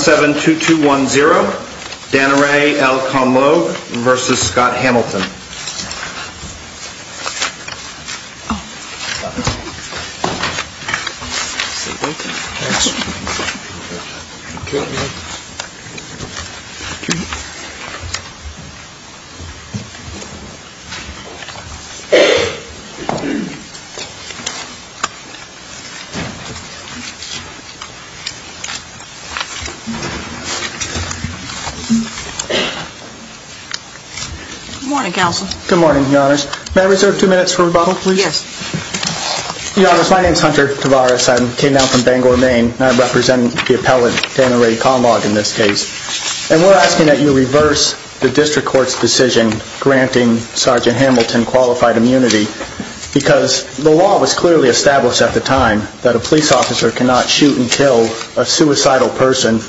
7-2-2-1-0 Dana Ray, El Conlogue v. Scott Hamilton Good morning, Counsel. Good morning, Your Honors. May I reserve two minutes for rebuttal, please? Yes. Your Honors, my name is Hunter Tavares. I came down from Bangor, Maine, and I represent the appellate Dana Ray Conlogue in this case. And we're asking that you reverse the district court's decision granting Sergeant Hamilton qualified immunity because the law was clearly established at the time that a police officer cannot shoot and kill a suicidal person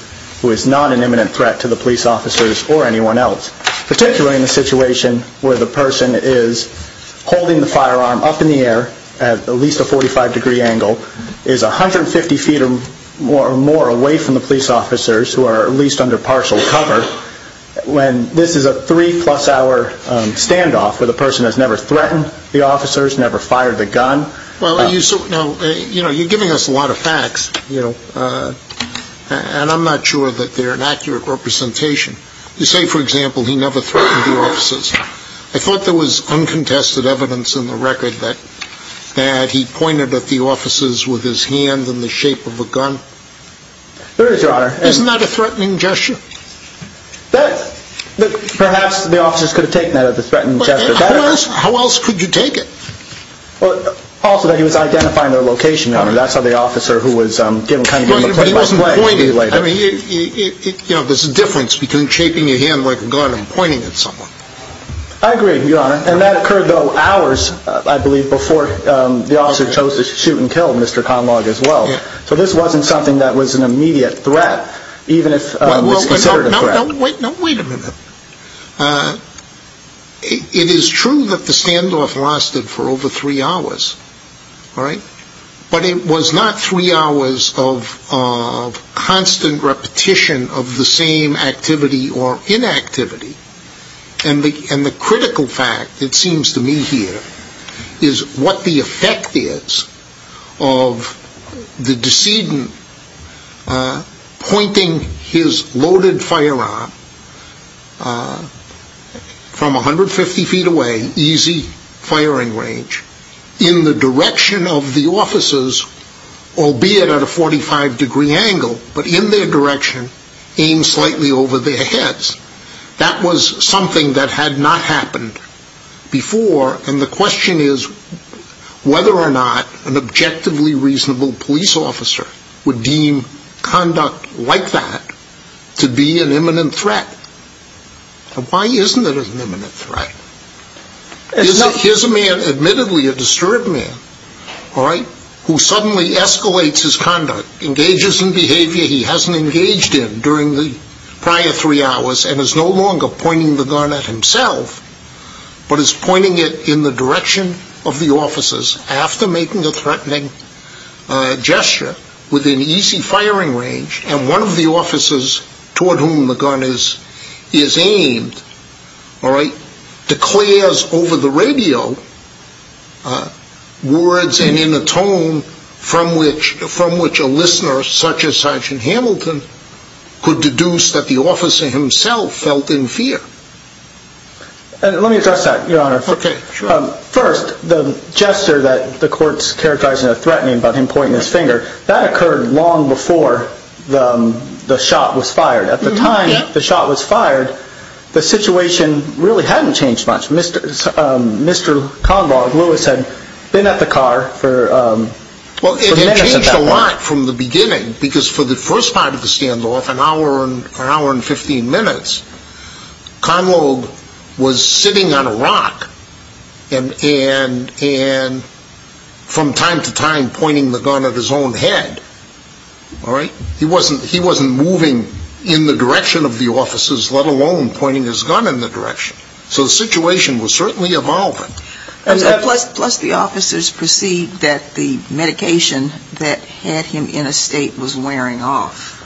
who is not an imminent threat to the police officers or anyone else. Particularly in a situation where the person is holding the firearm up in the air at at least a 45 degree angle, is 150 feet or more away from the police officers who are at least under partial cover, when this is a three plus hour standoff where the person has never threatened the officers, never fired the gun. Well, you know, you're giving us a lot of facts, you know, and I'm not sure that they're an accurate representation. You say, for example, he never threatened the officers. I thought there was uncontested evidence in the record that he pointed at the officers with his hand in the shape of a gun. There is, Your Honor. Isn't that a threatening gesture? Perhaps the officers could have taken that as a threatening gesture. How else could you take it? Also that he was identifying their location, Your Honor. That's part of the officer who was given kind of a play-by-play. But he wasn't pointing. There's a difference between shaping your hand like a gun and pointing at someone. I agree, Your Honor. And that occurred, though, hours, I believe, before the officer chose to shoot and kill Mr. Conlogue as well. So this wasn't something that was an immediate threat, even if it's considered a threat. No, wait a minute. It is true that the standoff lasted for over three hours, all right? But it was not three hours of constant repetition of the same activity or inactivity. And the critical fact, it seems to me here, is what the effect is of the decedent pointing his loaded firearm from 150 feet away, easy firing range, in the direction of the officers, albeit at a 45 degree angle, but in their direction, aimed slightly over their heads. That was something that had not happened before. And the question is whether or not an objectively reasonable police officer would deem conduct like that to be an imminent threat. And why isn't it an imminent threat? Here's a man, admittedly a disturbed man, all right, who suddenly escalates his conduct, engages in behavior he hasn't engaged in during the prior three hours, and is no longer pointing the gun at himself, but is pointing it in the direction of the officers after making a threatening gesture. Within easy firing range, and one of the officers toward whom the gun is aimed, all right, declares over the radio words and in a tone from which a listener such as Sergeant Hamilton could deduce that the officer himself felt in fear. Let me address that, Your Honor. First, the gesture that the court's characterizing as threatening about him pointing his finger, that occurred long before the shot was fired. At the time the shot was fired, the situation really hadn't changed much. Mr. Convall, Lewis had been at the car for minutes at that point. Well, it had changed a lot from the beginning, because for the first part of the standoff, an hour and 15 minutes, Convall was sitting on a rock, and from time to time pointing the gun at his own head, all right? He wasn't moving in the direction of the officers, let alone pointing his gun in the direction. So the situation was certainly evolving. Plus the officers perceived that the medication that had him in a state was wearing off.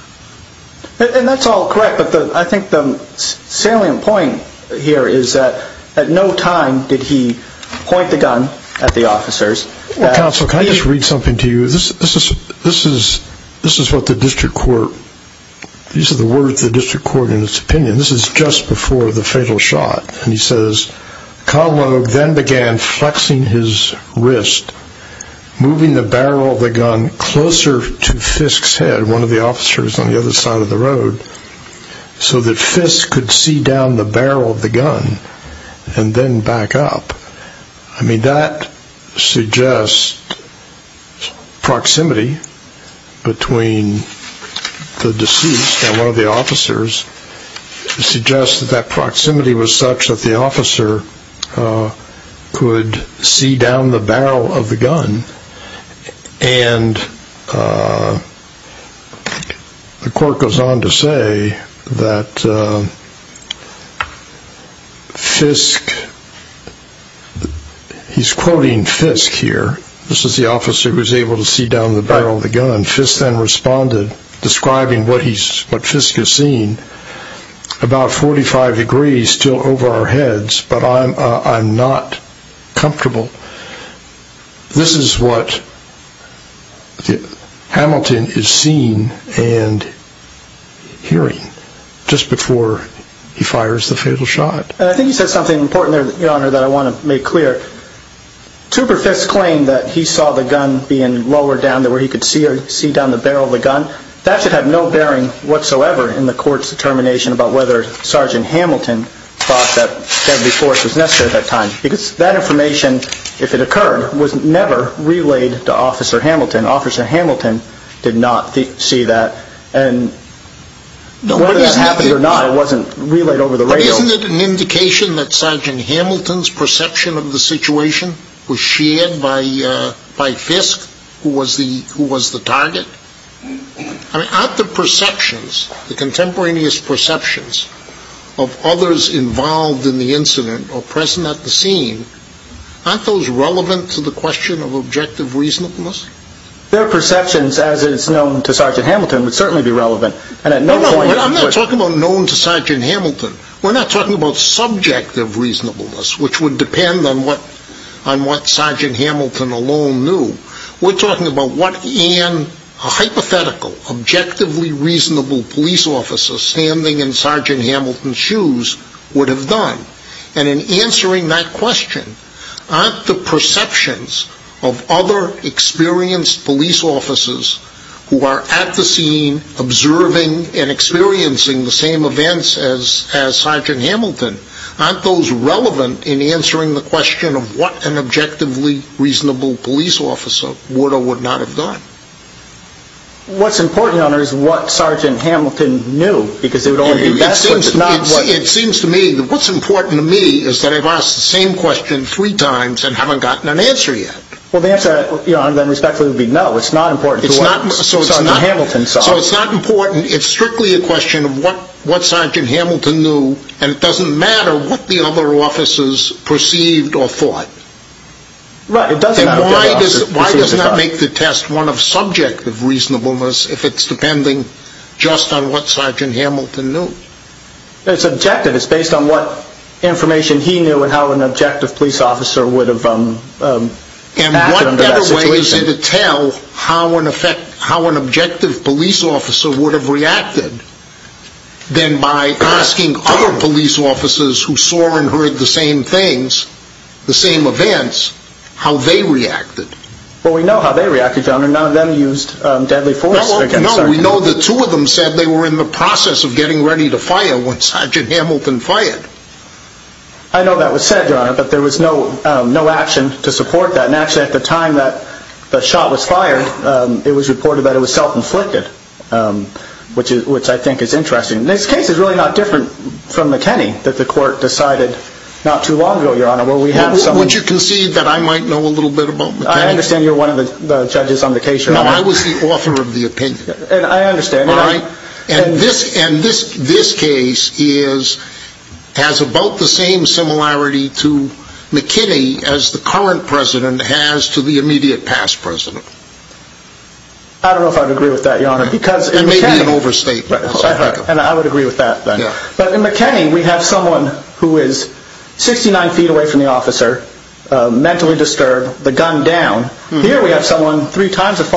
And that's all correct, but I think the salient point here is that at no time did he point the gun at the officers. Well, counsel, can I just read something to you? This is what the district court, these are the words of the district court in its opinion. This is just before the fatal shot. And he says, Conlow then began flexing his wrist, moving the barrel of the gun closer to Fisk's head, one of the officers on the other side of the road, so that Fisk could see down the barrel of the gun and then back up. I mean, that suggests proximity between the deceased and one of the officers, suggests that that proximity was such that the officer could see down the barrel of the gun. And the court goes on to say that Fisk, he's quoting Fisk here, this is the officer who was able to see down the barrel of the gun, Fisk then responded, describing what Fisk has seen, about 45 degrees still over our heads, but I'm not comfortable. This is what Hamilton is seeing and hearing, just before he fires the fatal shot. I think you said something important there, your honor, that I want to make clear. Two for Fisk's claim that he saw the gun being lowered down to where he could see down the barrel of the gun, that should have no bearing whatsoever in the court's determination about whether Sergeant Hamilton thought that deadly force was necessary at that time. Because that information, if it occurred, was never relayed to Officer Hamilton. Officer Hamilton did not see that and whether this happened or not wasn't relayed over the radio. Isn't it an indication that Sergeant Hamilton's perception of the situation was shared by Fisk, who was the target? Aren't the perceptions, the contemporaneous perceptions of others involved in the incident or present at the scene, aren't those relevant to the question of objective reasonableness? Their perceptions, as it is known to Sergeant Hamilton, would certainly be relevant. I'm not talking about known to Sergeant Hamilton. We're not talking about subjective reasonableness, which would depend on what Sergeant Hamilton alone knew. We're talking about what a hypothetical, objectively reasonable police officer standing in Sergeant Hamilton's shoes would have done. And in answering that question, aren't the perceptions of other experienced police officers who are at the scene observing and experiencing the same events as Sergeant Hamilton, aren't those relevant in answering the question of what an objectively reasonable police officer would or would not have done? What's important, Your Honor, is what Sergeant Hamilton knew. It seems to me that what's important to me is that I've asked the same question three times and haven't gotten an answer yet. Well, the answer, Your Honor, then respectfully would be no. It's not important to what Sergeant Hamilton saw. So it's not important. It's strictly a question of what Sergeant Hamilton knew and it doesn't matter what the other officers perceived or thought. And why does it not make the test one of subjective reasonableness if it's depending just on what Sergeant Hamilton knew? It's objective. It's based on what information he knew and how an objective police officer would have acted under that situation. Well, is it a tell how an objective police officer would have reacted than by asking other police officers who saw and heard the same things, the same events, how they reacted? Well, we know how they reacted, Your Honor. None of them used deadly force against Sergeant Hamilton. No, we know the two of them said they were in the process of getting ready to fire when Sergeant Hamilton fired. I know that was said, Your Honor, but there was no action to support that. And actually at the time that the shot was fired, it was reported that it was self-inflicted, which I think is interesting. This case is really not different from McKinney that the court decided not too long ago, Your Honor. Would you concede that I might know a little bit about McKinney? I understand you're one of the judges on the case, Your Honor. No, I was the author of the opinion. And I understand. And this case has about the same similarity to McKinney as the current president has to the immediate past president. I don't know if I would agree with that, Your Honor. That may be an overstatement. And I would agree with that. But in McKinney, we have someone who is 69 feet away from the officer, mentally disturbed, the gun down. Here we have someone three times as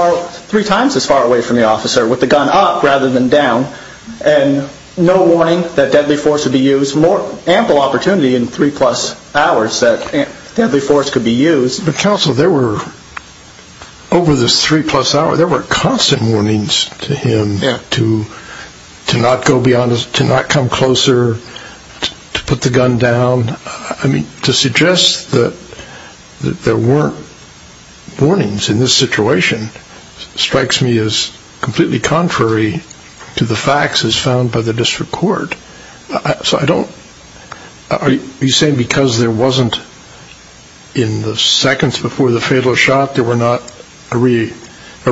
far away from the officer with the gun up rather than down. And no warning that deadly force would be used. More ample opportunity in three-plus hours that deadly force could be used. But, Counsel, there were, over this three-plus hour, there were constant warnings to him to not go beyond, to not come closer, to put the gun down. I mean, to suggest that there weren't warnings in this situation strikes me as completely contrary to the facts as found by the district court. So I don't, are you saying because there wasn't, in the seconds before the fatal shot, there were not a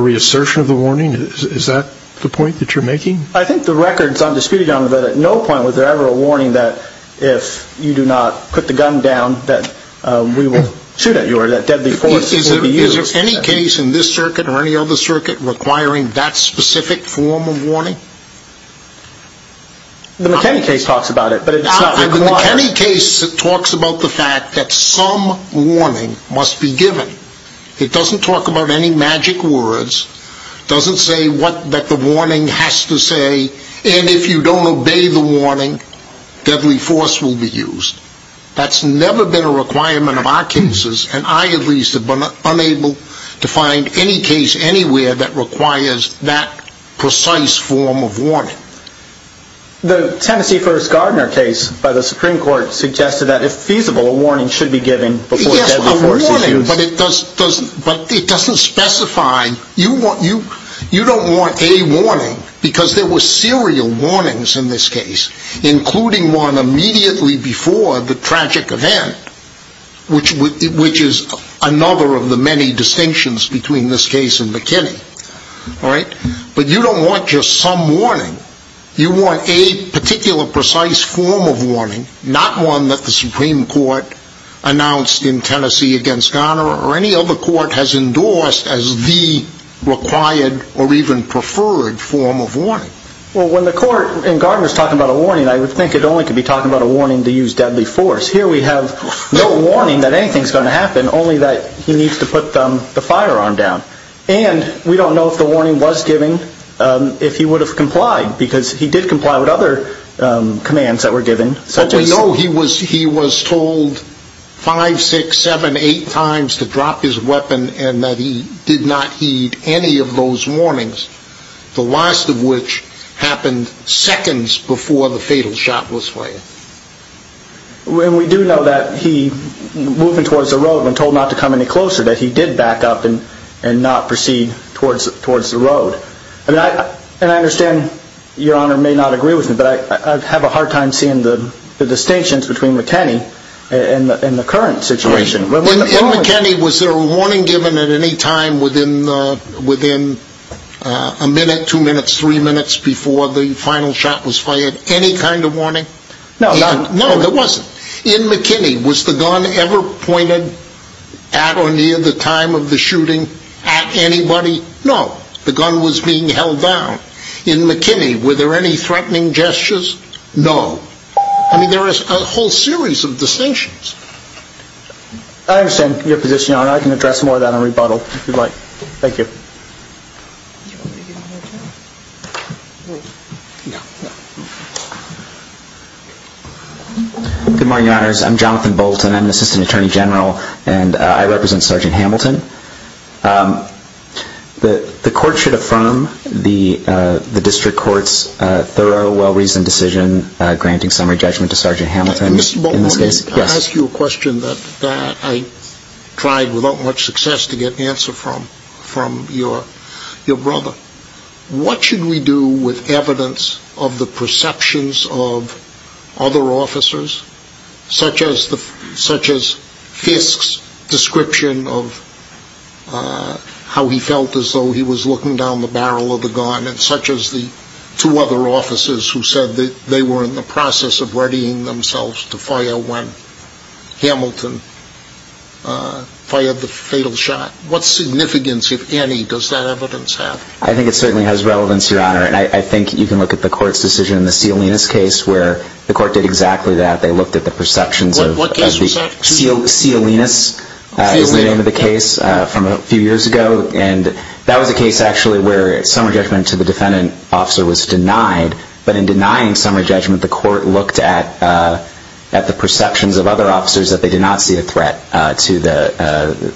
reassertion of the warning? Is that the point that you're making? I think the record is undisputed, Your Honor, that at no point was there ever a warning that if you do not put the gun down, that we will shoot at you or that deadly force will be used. Is there any case in this circuit or any other circuit requiring that specific form of warning? The McKinney case talks about it. The McKinney case talks about the fact that some warning must be given. It doesn't talk about any magic words, doesn't say what the warning has to say, and if you don't obey the warning, deadly force will be used. That's never been a requirement of our cases, and I at least have been unable to find any case anywhere that requires that precise form of warning. The Tennessee First Gardner case by the Supreme Court suggested that if feasible, a warning should be given before deadly force is used. But it doesn't specify, you don't want a warning, because there were serial warnings in this case, including one immediately before the tragic event, which is another of the many distinctions between this case and McKinney. But you don't want just some warning, you want a particular precise form of warning, not one that the Supreme Court announced in Tennessee against Gardner or any other court has endorsed as the required or even preferred form of warning. Well, when the court in Gardner is talking about a warning, I would think it only could be talking about a warning to use deadly force. Here we have no warning that anything is going to happen, only that he needs to put the firearm down. And we don't know if the warning was given, if he would have complied, because he did comply with other commands that were given. But we know he was told 5, 6, 7, 8 times to drop his weapon and that he did not heed any of those warnings, the last of which happened seconds before the fatal shot was fired. And we do know that he, moving towards the road, when told not to come any closer, that he did back up and not proceed towards the road. And I understand Your Honor may not agree with me, but I have a hard time seeing the distinctions between McKinney and the current situation. In McKinney, was there a warning given at any time within a minute, two minutes, three minutes before the final shot was fired? Any kind of warning? No. No, there wasn't. In McKinney, was the gun ever pointed at or near the time of the shooting at anybody? No. The gun was being held down. In McKinney, were there any threatening gestures? No. I mean, there is a whole series of distinctions. I understand your position, Your Honor. I can address more of that in rebuttal, if you'd like. Thank you. Good morning, Your Honors. I'm Jonathan Bolton. I'm an assistant attorney general, and I represent Sergeant Hamilton. The court should affirm the district court's thorough, well-reasoned decision granting summary judgment to Sergeant Hamilton. Mr. Bolton, I ask you a question that I tried without much success to get the answer from you. What should we do with evidence of the perceptions of other officers, such as Fisk's description of how he felt as though he was looking down the barrel of the gun, and such as the two other officers who said that they were in the process of readying themselves to fire when Hamilton fired the fatal shot? What significance, if any, does that evidence have? I think it certainly has relevance, Your Honor. And I think you can look at the court's decision in the Cialinus case, where the court did exactly that. They looked at the perceptions of Cialinus, is the name of the case, from a few years ago. And that was a case, actually, where summary judgment to the defendant officer was denied. But in denying summary judgment, the court looked at the perceptions of other officers that they did not see a threat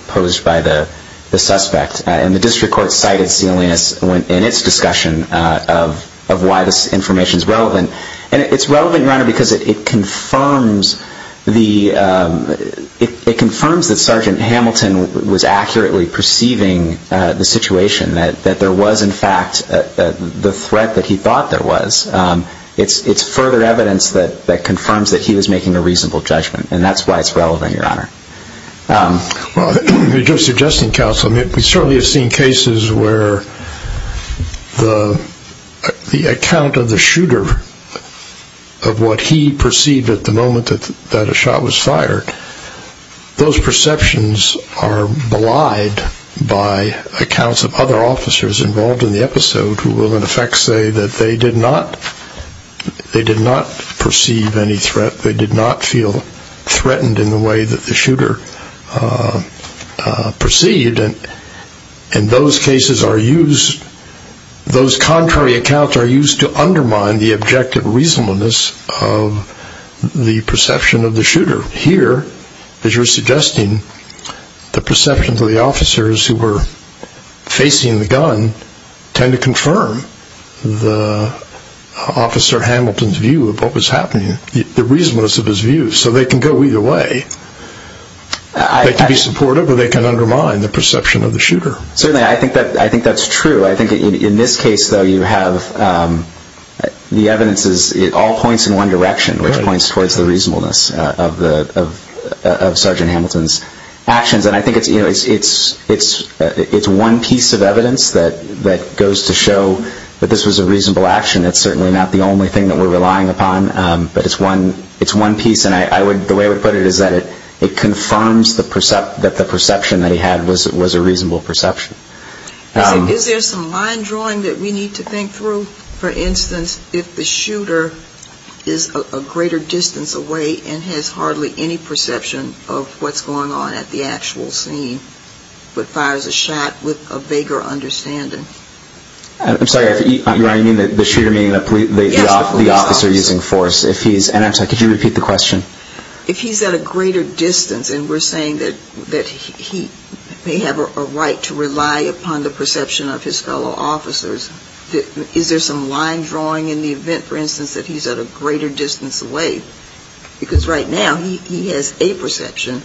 posed by the suspect. And the district court cited Cialinus in its discussion of why this information is relevant. And it's relevant, Your Honor, because it confirms that Sergeant Hamilton was accurately perceiving the situation, that there was, in fact, the threat that he thought there was. It's further evidence that confirms that he was making a reasonable judgment. And that's why it's relevant, Your Honor. Well, just suggesting, counsel, we certainly have seen cases where the account of the shooter, of what he perceived at the moment that a shot was fired, those perceptions are belied by accounts of other officers involved in the episode, who will, in effect, say that they did not perceive any threat, that they did not feel threatened in the way that the shooter perceived. And those cases are used, those contrary accounts are used to undermine the objective reasonableness of the perception of the shooter. Here, as you're suggesting, the perceptions of the officers who were facing the gun tend to confirm the officer Hamilton's view of what was happening. The reasonableness of his view. So they can go either way. They can be supportive or they can undermine the perception of the shooter. Certainly, I think that's true. I think in this case, though, you have the evidence all points in one direction, which points towards the reasonableness of Sergeant Hamilton's actions. And I think it's one piece of evidence that goes to show that this was a reasonable action. It's certainly not the only thing that we're relying upon, but it's one piece. And the way I would put it is that it confirms that the perception that he had was a reasonable perception. Is there some line drawing that we need to think through? For instance, if the shooter is a greater distance away and has hardly any perception of what's going on at the actual scene, but fires a shot with a vaguer understanding. I'm sorry. You mean the shooter meaning the officer using force? Yes, the police officer. Could you repeat the question? If he's at a greater distance and we're saying that he may have a right to rely upon the perception of his fellow officers, is there some line drawing in the event, for instance, that he's at a greater distance away? Because right now he has a perception,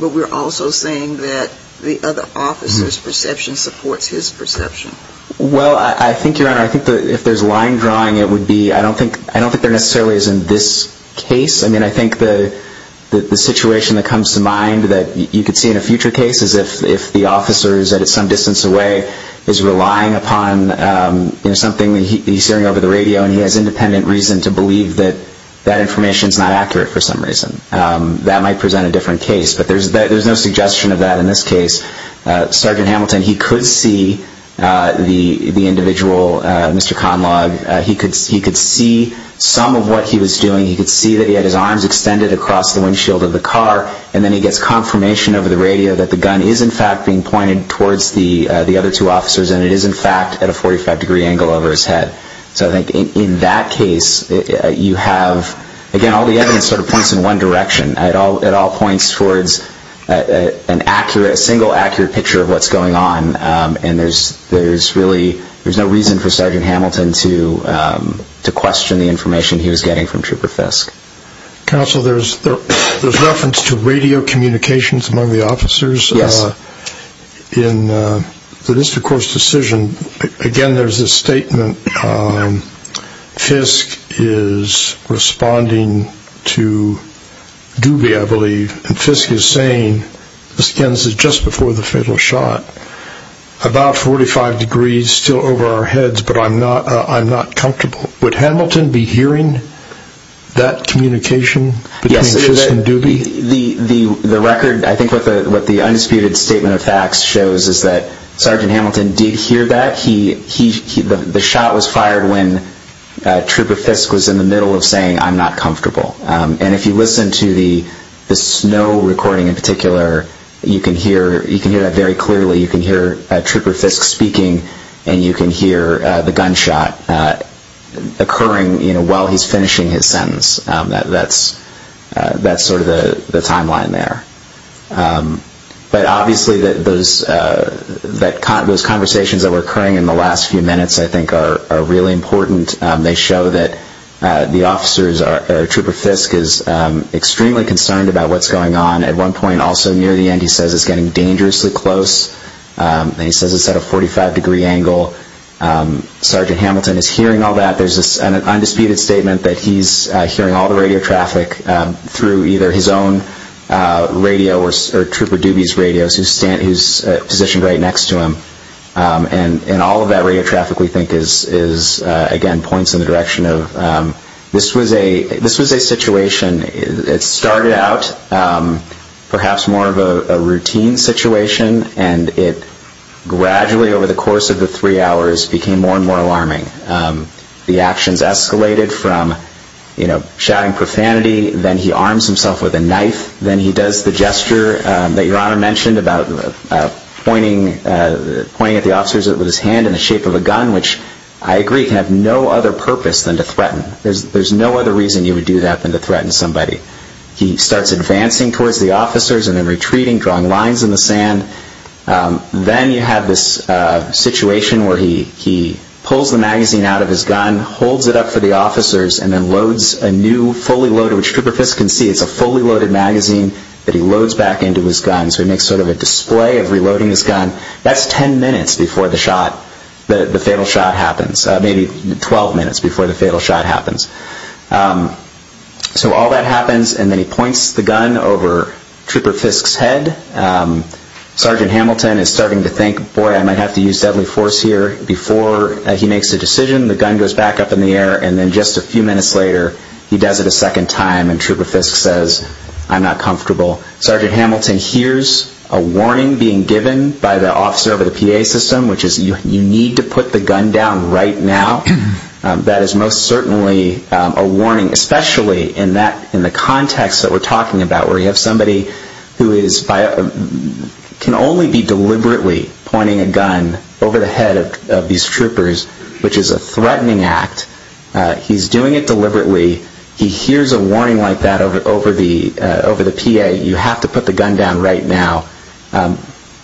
but we're also saying that the other officer's perception supports his perception. Well, I think, Your Honor, if there's line drawing, I don't think there necessarily is in this case. I mean, I think the situation that comes to mind that you could see in a future case is if the officer is at some distance away, is relying upon something that he's hearing over the radio, and he has independent reason to believe that that information is not accurate for some reason. That might present a different case, but there's no suggestion of that in this case. Sergeant Hamilton, he could see the individual, Mr. Conlogue. He could see some of what he was doing. He could see that he had his arms extended across the windshield of the car, and then he gets confirmation over the radio that the gun is, in fact, being pointed towards the other two officers, and it is, in fact, at a 45-degree angle over his head. So I think in that case, you have, again, all the evidence sort of points in one direction. It all points towards a single accurate picture of what's going on, and there's really no reason for Sergeant Hamilton to question the information he was getting from Trooper Fiske. Counsel, there's reference to radio communications among the officers. Yes. In the district court's decision, again, there's this statement. Fiske is responding to Doobie, I believe, and Fiske is saying, again, this is just before the fatal shot, about 45 degrees, still over our heads, but I'm not comfortable. Would Hamilton be hearing that communication between Fiske and Doobie? Yes. The record, I think what the undisputed statement of facts shows is that Sergeant Hamilton did hear that. The shot was fired when Trooper Fiske was in the middle of saying, I'm not comfortable, and if you listen to the snow recording in particular, you can hear that very clearly. You can hear Trooper Fiske speaking and you can hear the gunshot occurring while he's finishing his sentence. That's sort of the timeline there. But obviously those conversations that were occurring in the last few minutes, I think, are really important. They show that the officers or Trooper Fiske is extremely concerned about what's going on. At one point, also near the end, he says it's getting dangerously close. He says it's at a 45-degree angle. Sergeant Hamilton is hearing all that. There's an undisputed statement that he's hearing all the radio traffic through either his own radio or Trooper Doobie's radio, who's positioned right next to him. And all of that radio traffic, we think, again, points in the direction of this was a situation. It started out perhaps more of a routine situation, and it gradually over the course of the three hours became more and more alarming. The actions escalated from shouting profanity, then he arms himself with a knife, then he does the gesture that Your Honor mentioned about pointing at the officers with his hand in the shape of a gun, which I agree can have no other purpose than to threaten. There's no other reason you would do that than to threaten somebody. He starts advancing towards the officers and then retreating, drawing lines in the sand. Then you have this situation where he pulls the magazine out of his gun, holds it up for the officers, and then loads a new fully loaded, which Trooper Fiske can see, it's a fully loaded magazine that he loads back into his gun. So he makes sort of a display of reloading his gun. That's 10 minutes before the fatal shot happens, maybe 12 minutes before the fatal shot happens. So all that happens, and then he points the gun over Trooper Fiske's head. Sergeant Hamilton is starting to think, boy, I might have to use deadly force here. Before he makes a decision, the gun goes back up in the air, and then just a few minutes later he does it a second time and Trooper Fiske says, I'm not comfortable. Sergeant Hamilton hears a warning being given by the officer of the PA system, which is you need to put the gun down right now. That is most certainly a warning, especially in the context that we're talking about, where you have somebody who can only be deliberately pointing a gun over the head of these troopers, which is a threatening act. He's doing it deliberately. He hears a warning like that over the PA. You have to put the gun down right now.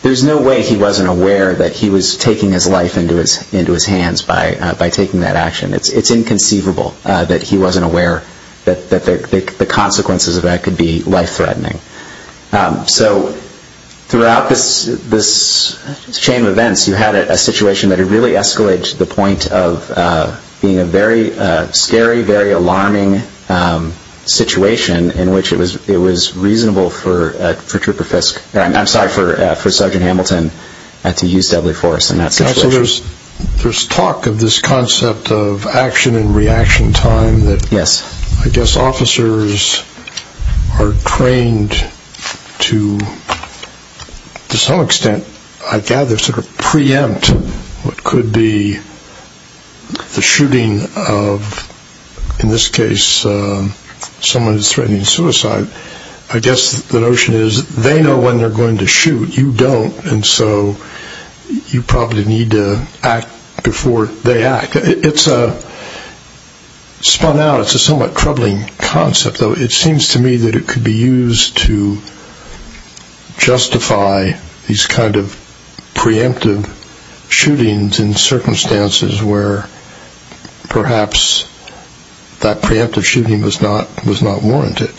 There's no way he wasn't aware that he was taking his life into his hands by taking that action. It's inconceivable that he wasn't aware that the consequences of that could be life-threatening. So throughout this chain of events, you had a situation that really escalated to the point of being a very scary, very alarming situation in which it was reasonable for Trooper Fiske, I'm sorry, for Sergeant Hamilton to use deadly force in that situation. There's talk of this concept of action and reaction time. Yes. I guess officers are trained to, to some extent, I gather, sort of preempt what could be the shooting of, in this case, someone who's threatening suicide. I guess the notion is they know when they're going to shoot, you don't, and so you probably need to act before they act. It's a spun out, it's a somewhat troubling concept, though it seems to me that it could be used to justify these kind of preemptive shootings in circumstances where perhaps that preemptive shooting was not warranted.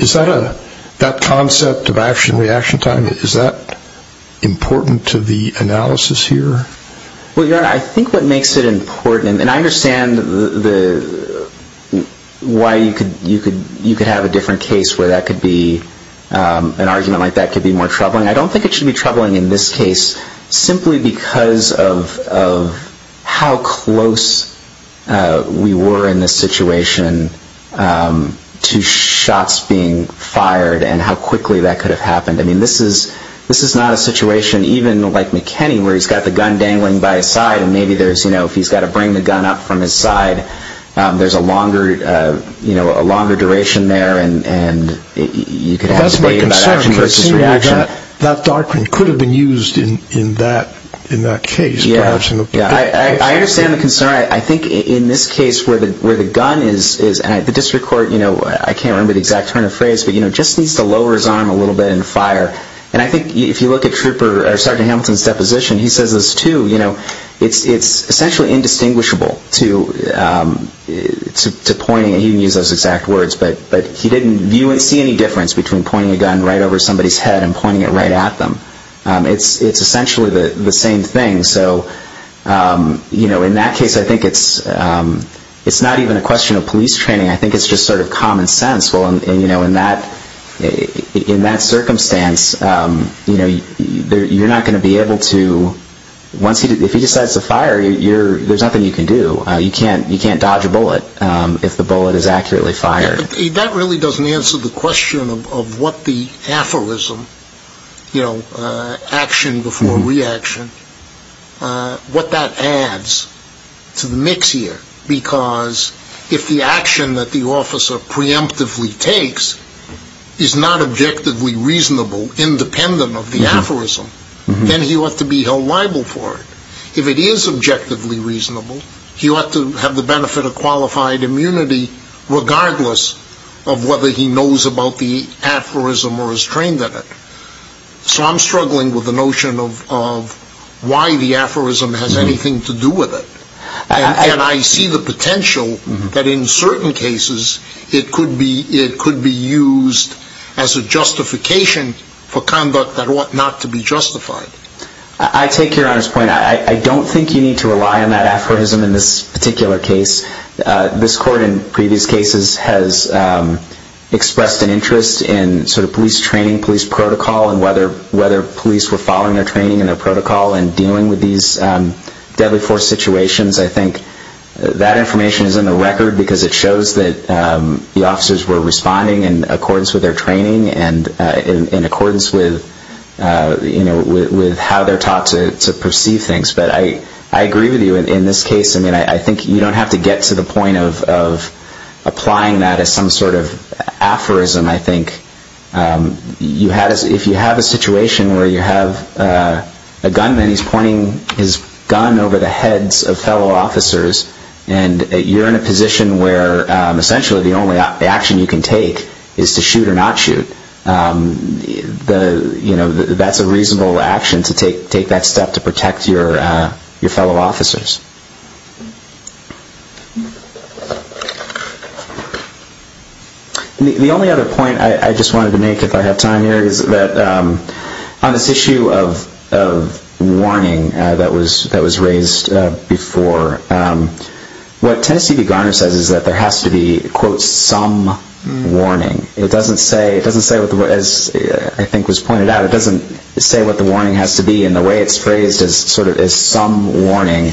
Is that a, that concept of action-reaction time, is that important to the analysis here? Well, your Honor, I think what makes it important, and I understand why you could have a different case where that could be, an argument like that could be more troubling. I don't think it should be troubling in this case, simply because of how close we were in this situation to shots being fired and how quickly that could have happened. I mean, this is not a situation, even like McKinney, where he's got the gun dangling by his side and maybe there's, you know, if he's got to bring the gun up from his side, there's a longer duration there and you could have a debate about action versus reaction. That's my concern, because it seems like that darkroom could have been used in that case. Yeah, I understand the concern. I think in this case where the gun is, and the district court, you know, I can't remember the exact turn of phrase, but, you know, just needs to lower his arm a little bit and fire. And I think if you look at Sgt. Hamilton's deposition, he says this too, you know, it's essentially indistinguishable to pointing, and he didn't use those exact words, but he didn't see any difference between pointing a gun right over somebody's head and pointing it right at them. It's essentially the same thing. So, you know, in that case, I think it's not even a question of police training. I think it's just sort of common sense. Well, you know, in that circumstance, you know, you're not going to be able to, if he decides to fire, there's nothing you can do. You can't dodge a bullet if the bullet is accurately fired. That really doesn't answer the question of what the aphorism, you know, action before reaction, what that adds to the mix here. Because if the action that the officer preemptively takes is not objectively reasonable, independent of the aphorism, then he ought to be held liable for it. If it is objectively reasonable, he ought to have the benefit of qualified immunity, regardless of whether he knows about the aphorism or is trained in it. So I'm struggling with the notion of why the aphorism has anything to do with it. And I see the potential that, in certain cases, it could be used as a justification for conduct that ought not to be justified. I take Your Honor's point. I don't think you need to rely on that aphorism in this particular case. This Court, in previous cases, has expressed an interest in police training, police protocol, and whether police were following their training and their protocol in dealing with these deadly force situations. I think that information is in the record because it shows that the officers were responding in accordance with their training and in accordance with how they're taught to perceive things. But I agree with you in this case. I mean, I think you don't have to get to the point of applying that as some sort of aphorism. I think if you have a situation where you have a gunman, he's pointing his gun over the heads of fellow officers, and you're in a position where essentially the only action you can take is to shoot or not shoot, that's a reasonable action to take that step to protect your fellow officers. The only other point I just wanted to make, if I have time here, is that on this issue of warning that was raised before, what Tennessee v. Garner says is that there has to be, quote, some warning. It doesn't say, as I think was pointed out, it doesn't say what the warning has to be, and the way it's phrased is some warning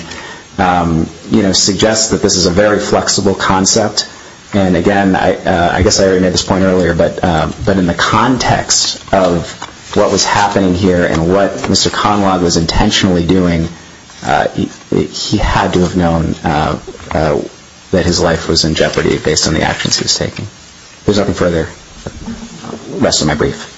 suggests that this is a very flexible concept. And again, I guess I already made this point earlier, but in the context of what was happening here and what Mr. Conlogue was intentionally doing, he had to have known that his life was in jeopardy based on the actions he was taking. If there's nothing further, the rest of my brief.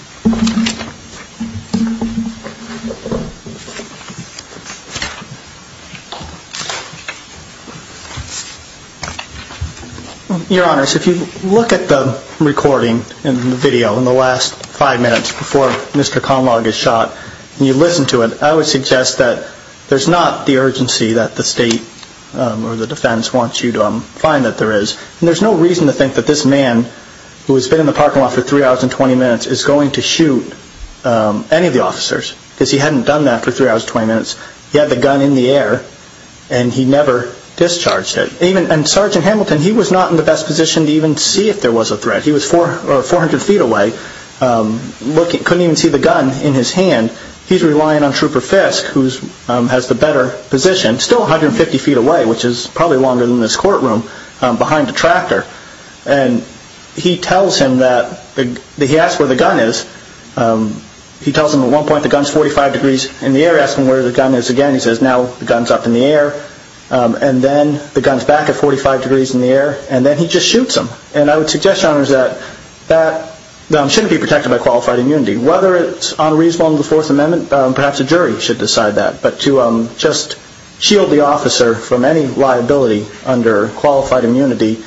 Your Honors, if you look at the recording and the video in the last five minutes before Mr. Conlogue is shot, and you listen to it, I would suggest that there's not the urgency that the State or the defense wants you to find that there is. And there's no reason to think that this man, who has been in the parking lot for 3 hours and 20 minutes, is going to shoot any of the officers, because he hadn't done that for 3 hours and 20 minutes. He had the gun in the air, and he never discharged it. And Sergeant Hamilton, he was not in the best position to even see if there was a threat. He was 400 feet away, couldn't even see the gun in his hand. He's relying on Trooper Fisk, who has the better position, still 150 feet away, which is probably longer than this courtroom, behind the tractor. And he tells him that, he asks where the gun is. He tells him at one point the gun's 45 degrees in the air, asks him where the gun is again. He says, now the gun's up in the air. And then the gun's back at 45 degrees in the air. And then he just shoots him. And I would suggest, Your Honors, that that shouldn't be protected by qualified immunity. Whether it's unreasonable under the Fourth Amendment, perhaps a jury should decide that. But to just shield the officer from any liability under qualified immunity,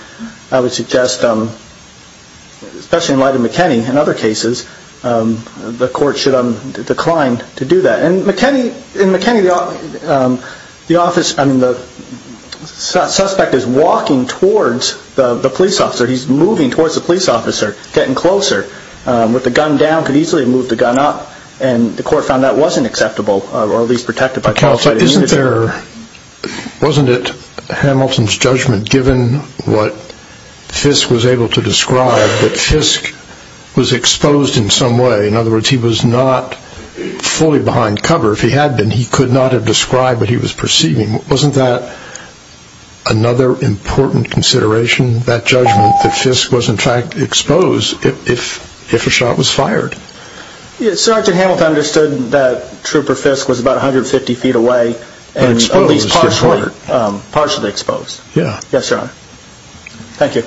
I would suggest, especially in light of McKinney, in other cases, the court should decline to do that. And McKinney, the suspect is walking towards the police officer. He's moving towards the police officer, getting closer. With the gun down, could easily have moved the gun up. And the court found that wasn't acceptable, or at least protected by qualified immunity. Wasn't it Hamilton's judgment, given what Fisk was able to describe, that Fisk was exposed in some way? In other words, he was not fully behind cover. If he had been, he could not have described what he was perceiving. Wasn't that another important consideration, that judgment, that Fisk was, in fact, exposed if a shot was fired? Sergeant Hamilton understood that Trooper Fisk was about 150 feet away, and at least partially exposed. Yes, Your Honor. Thank you.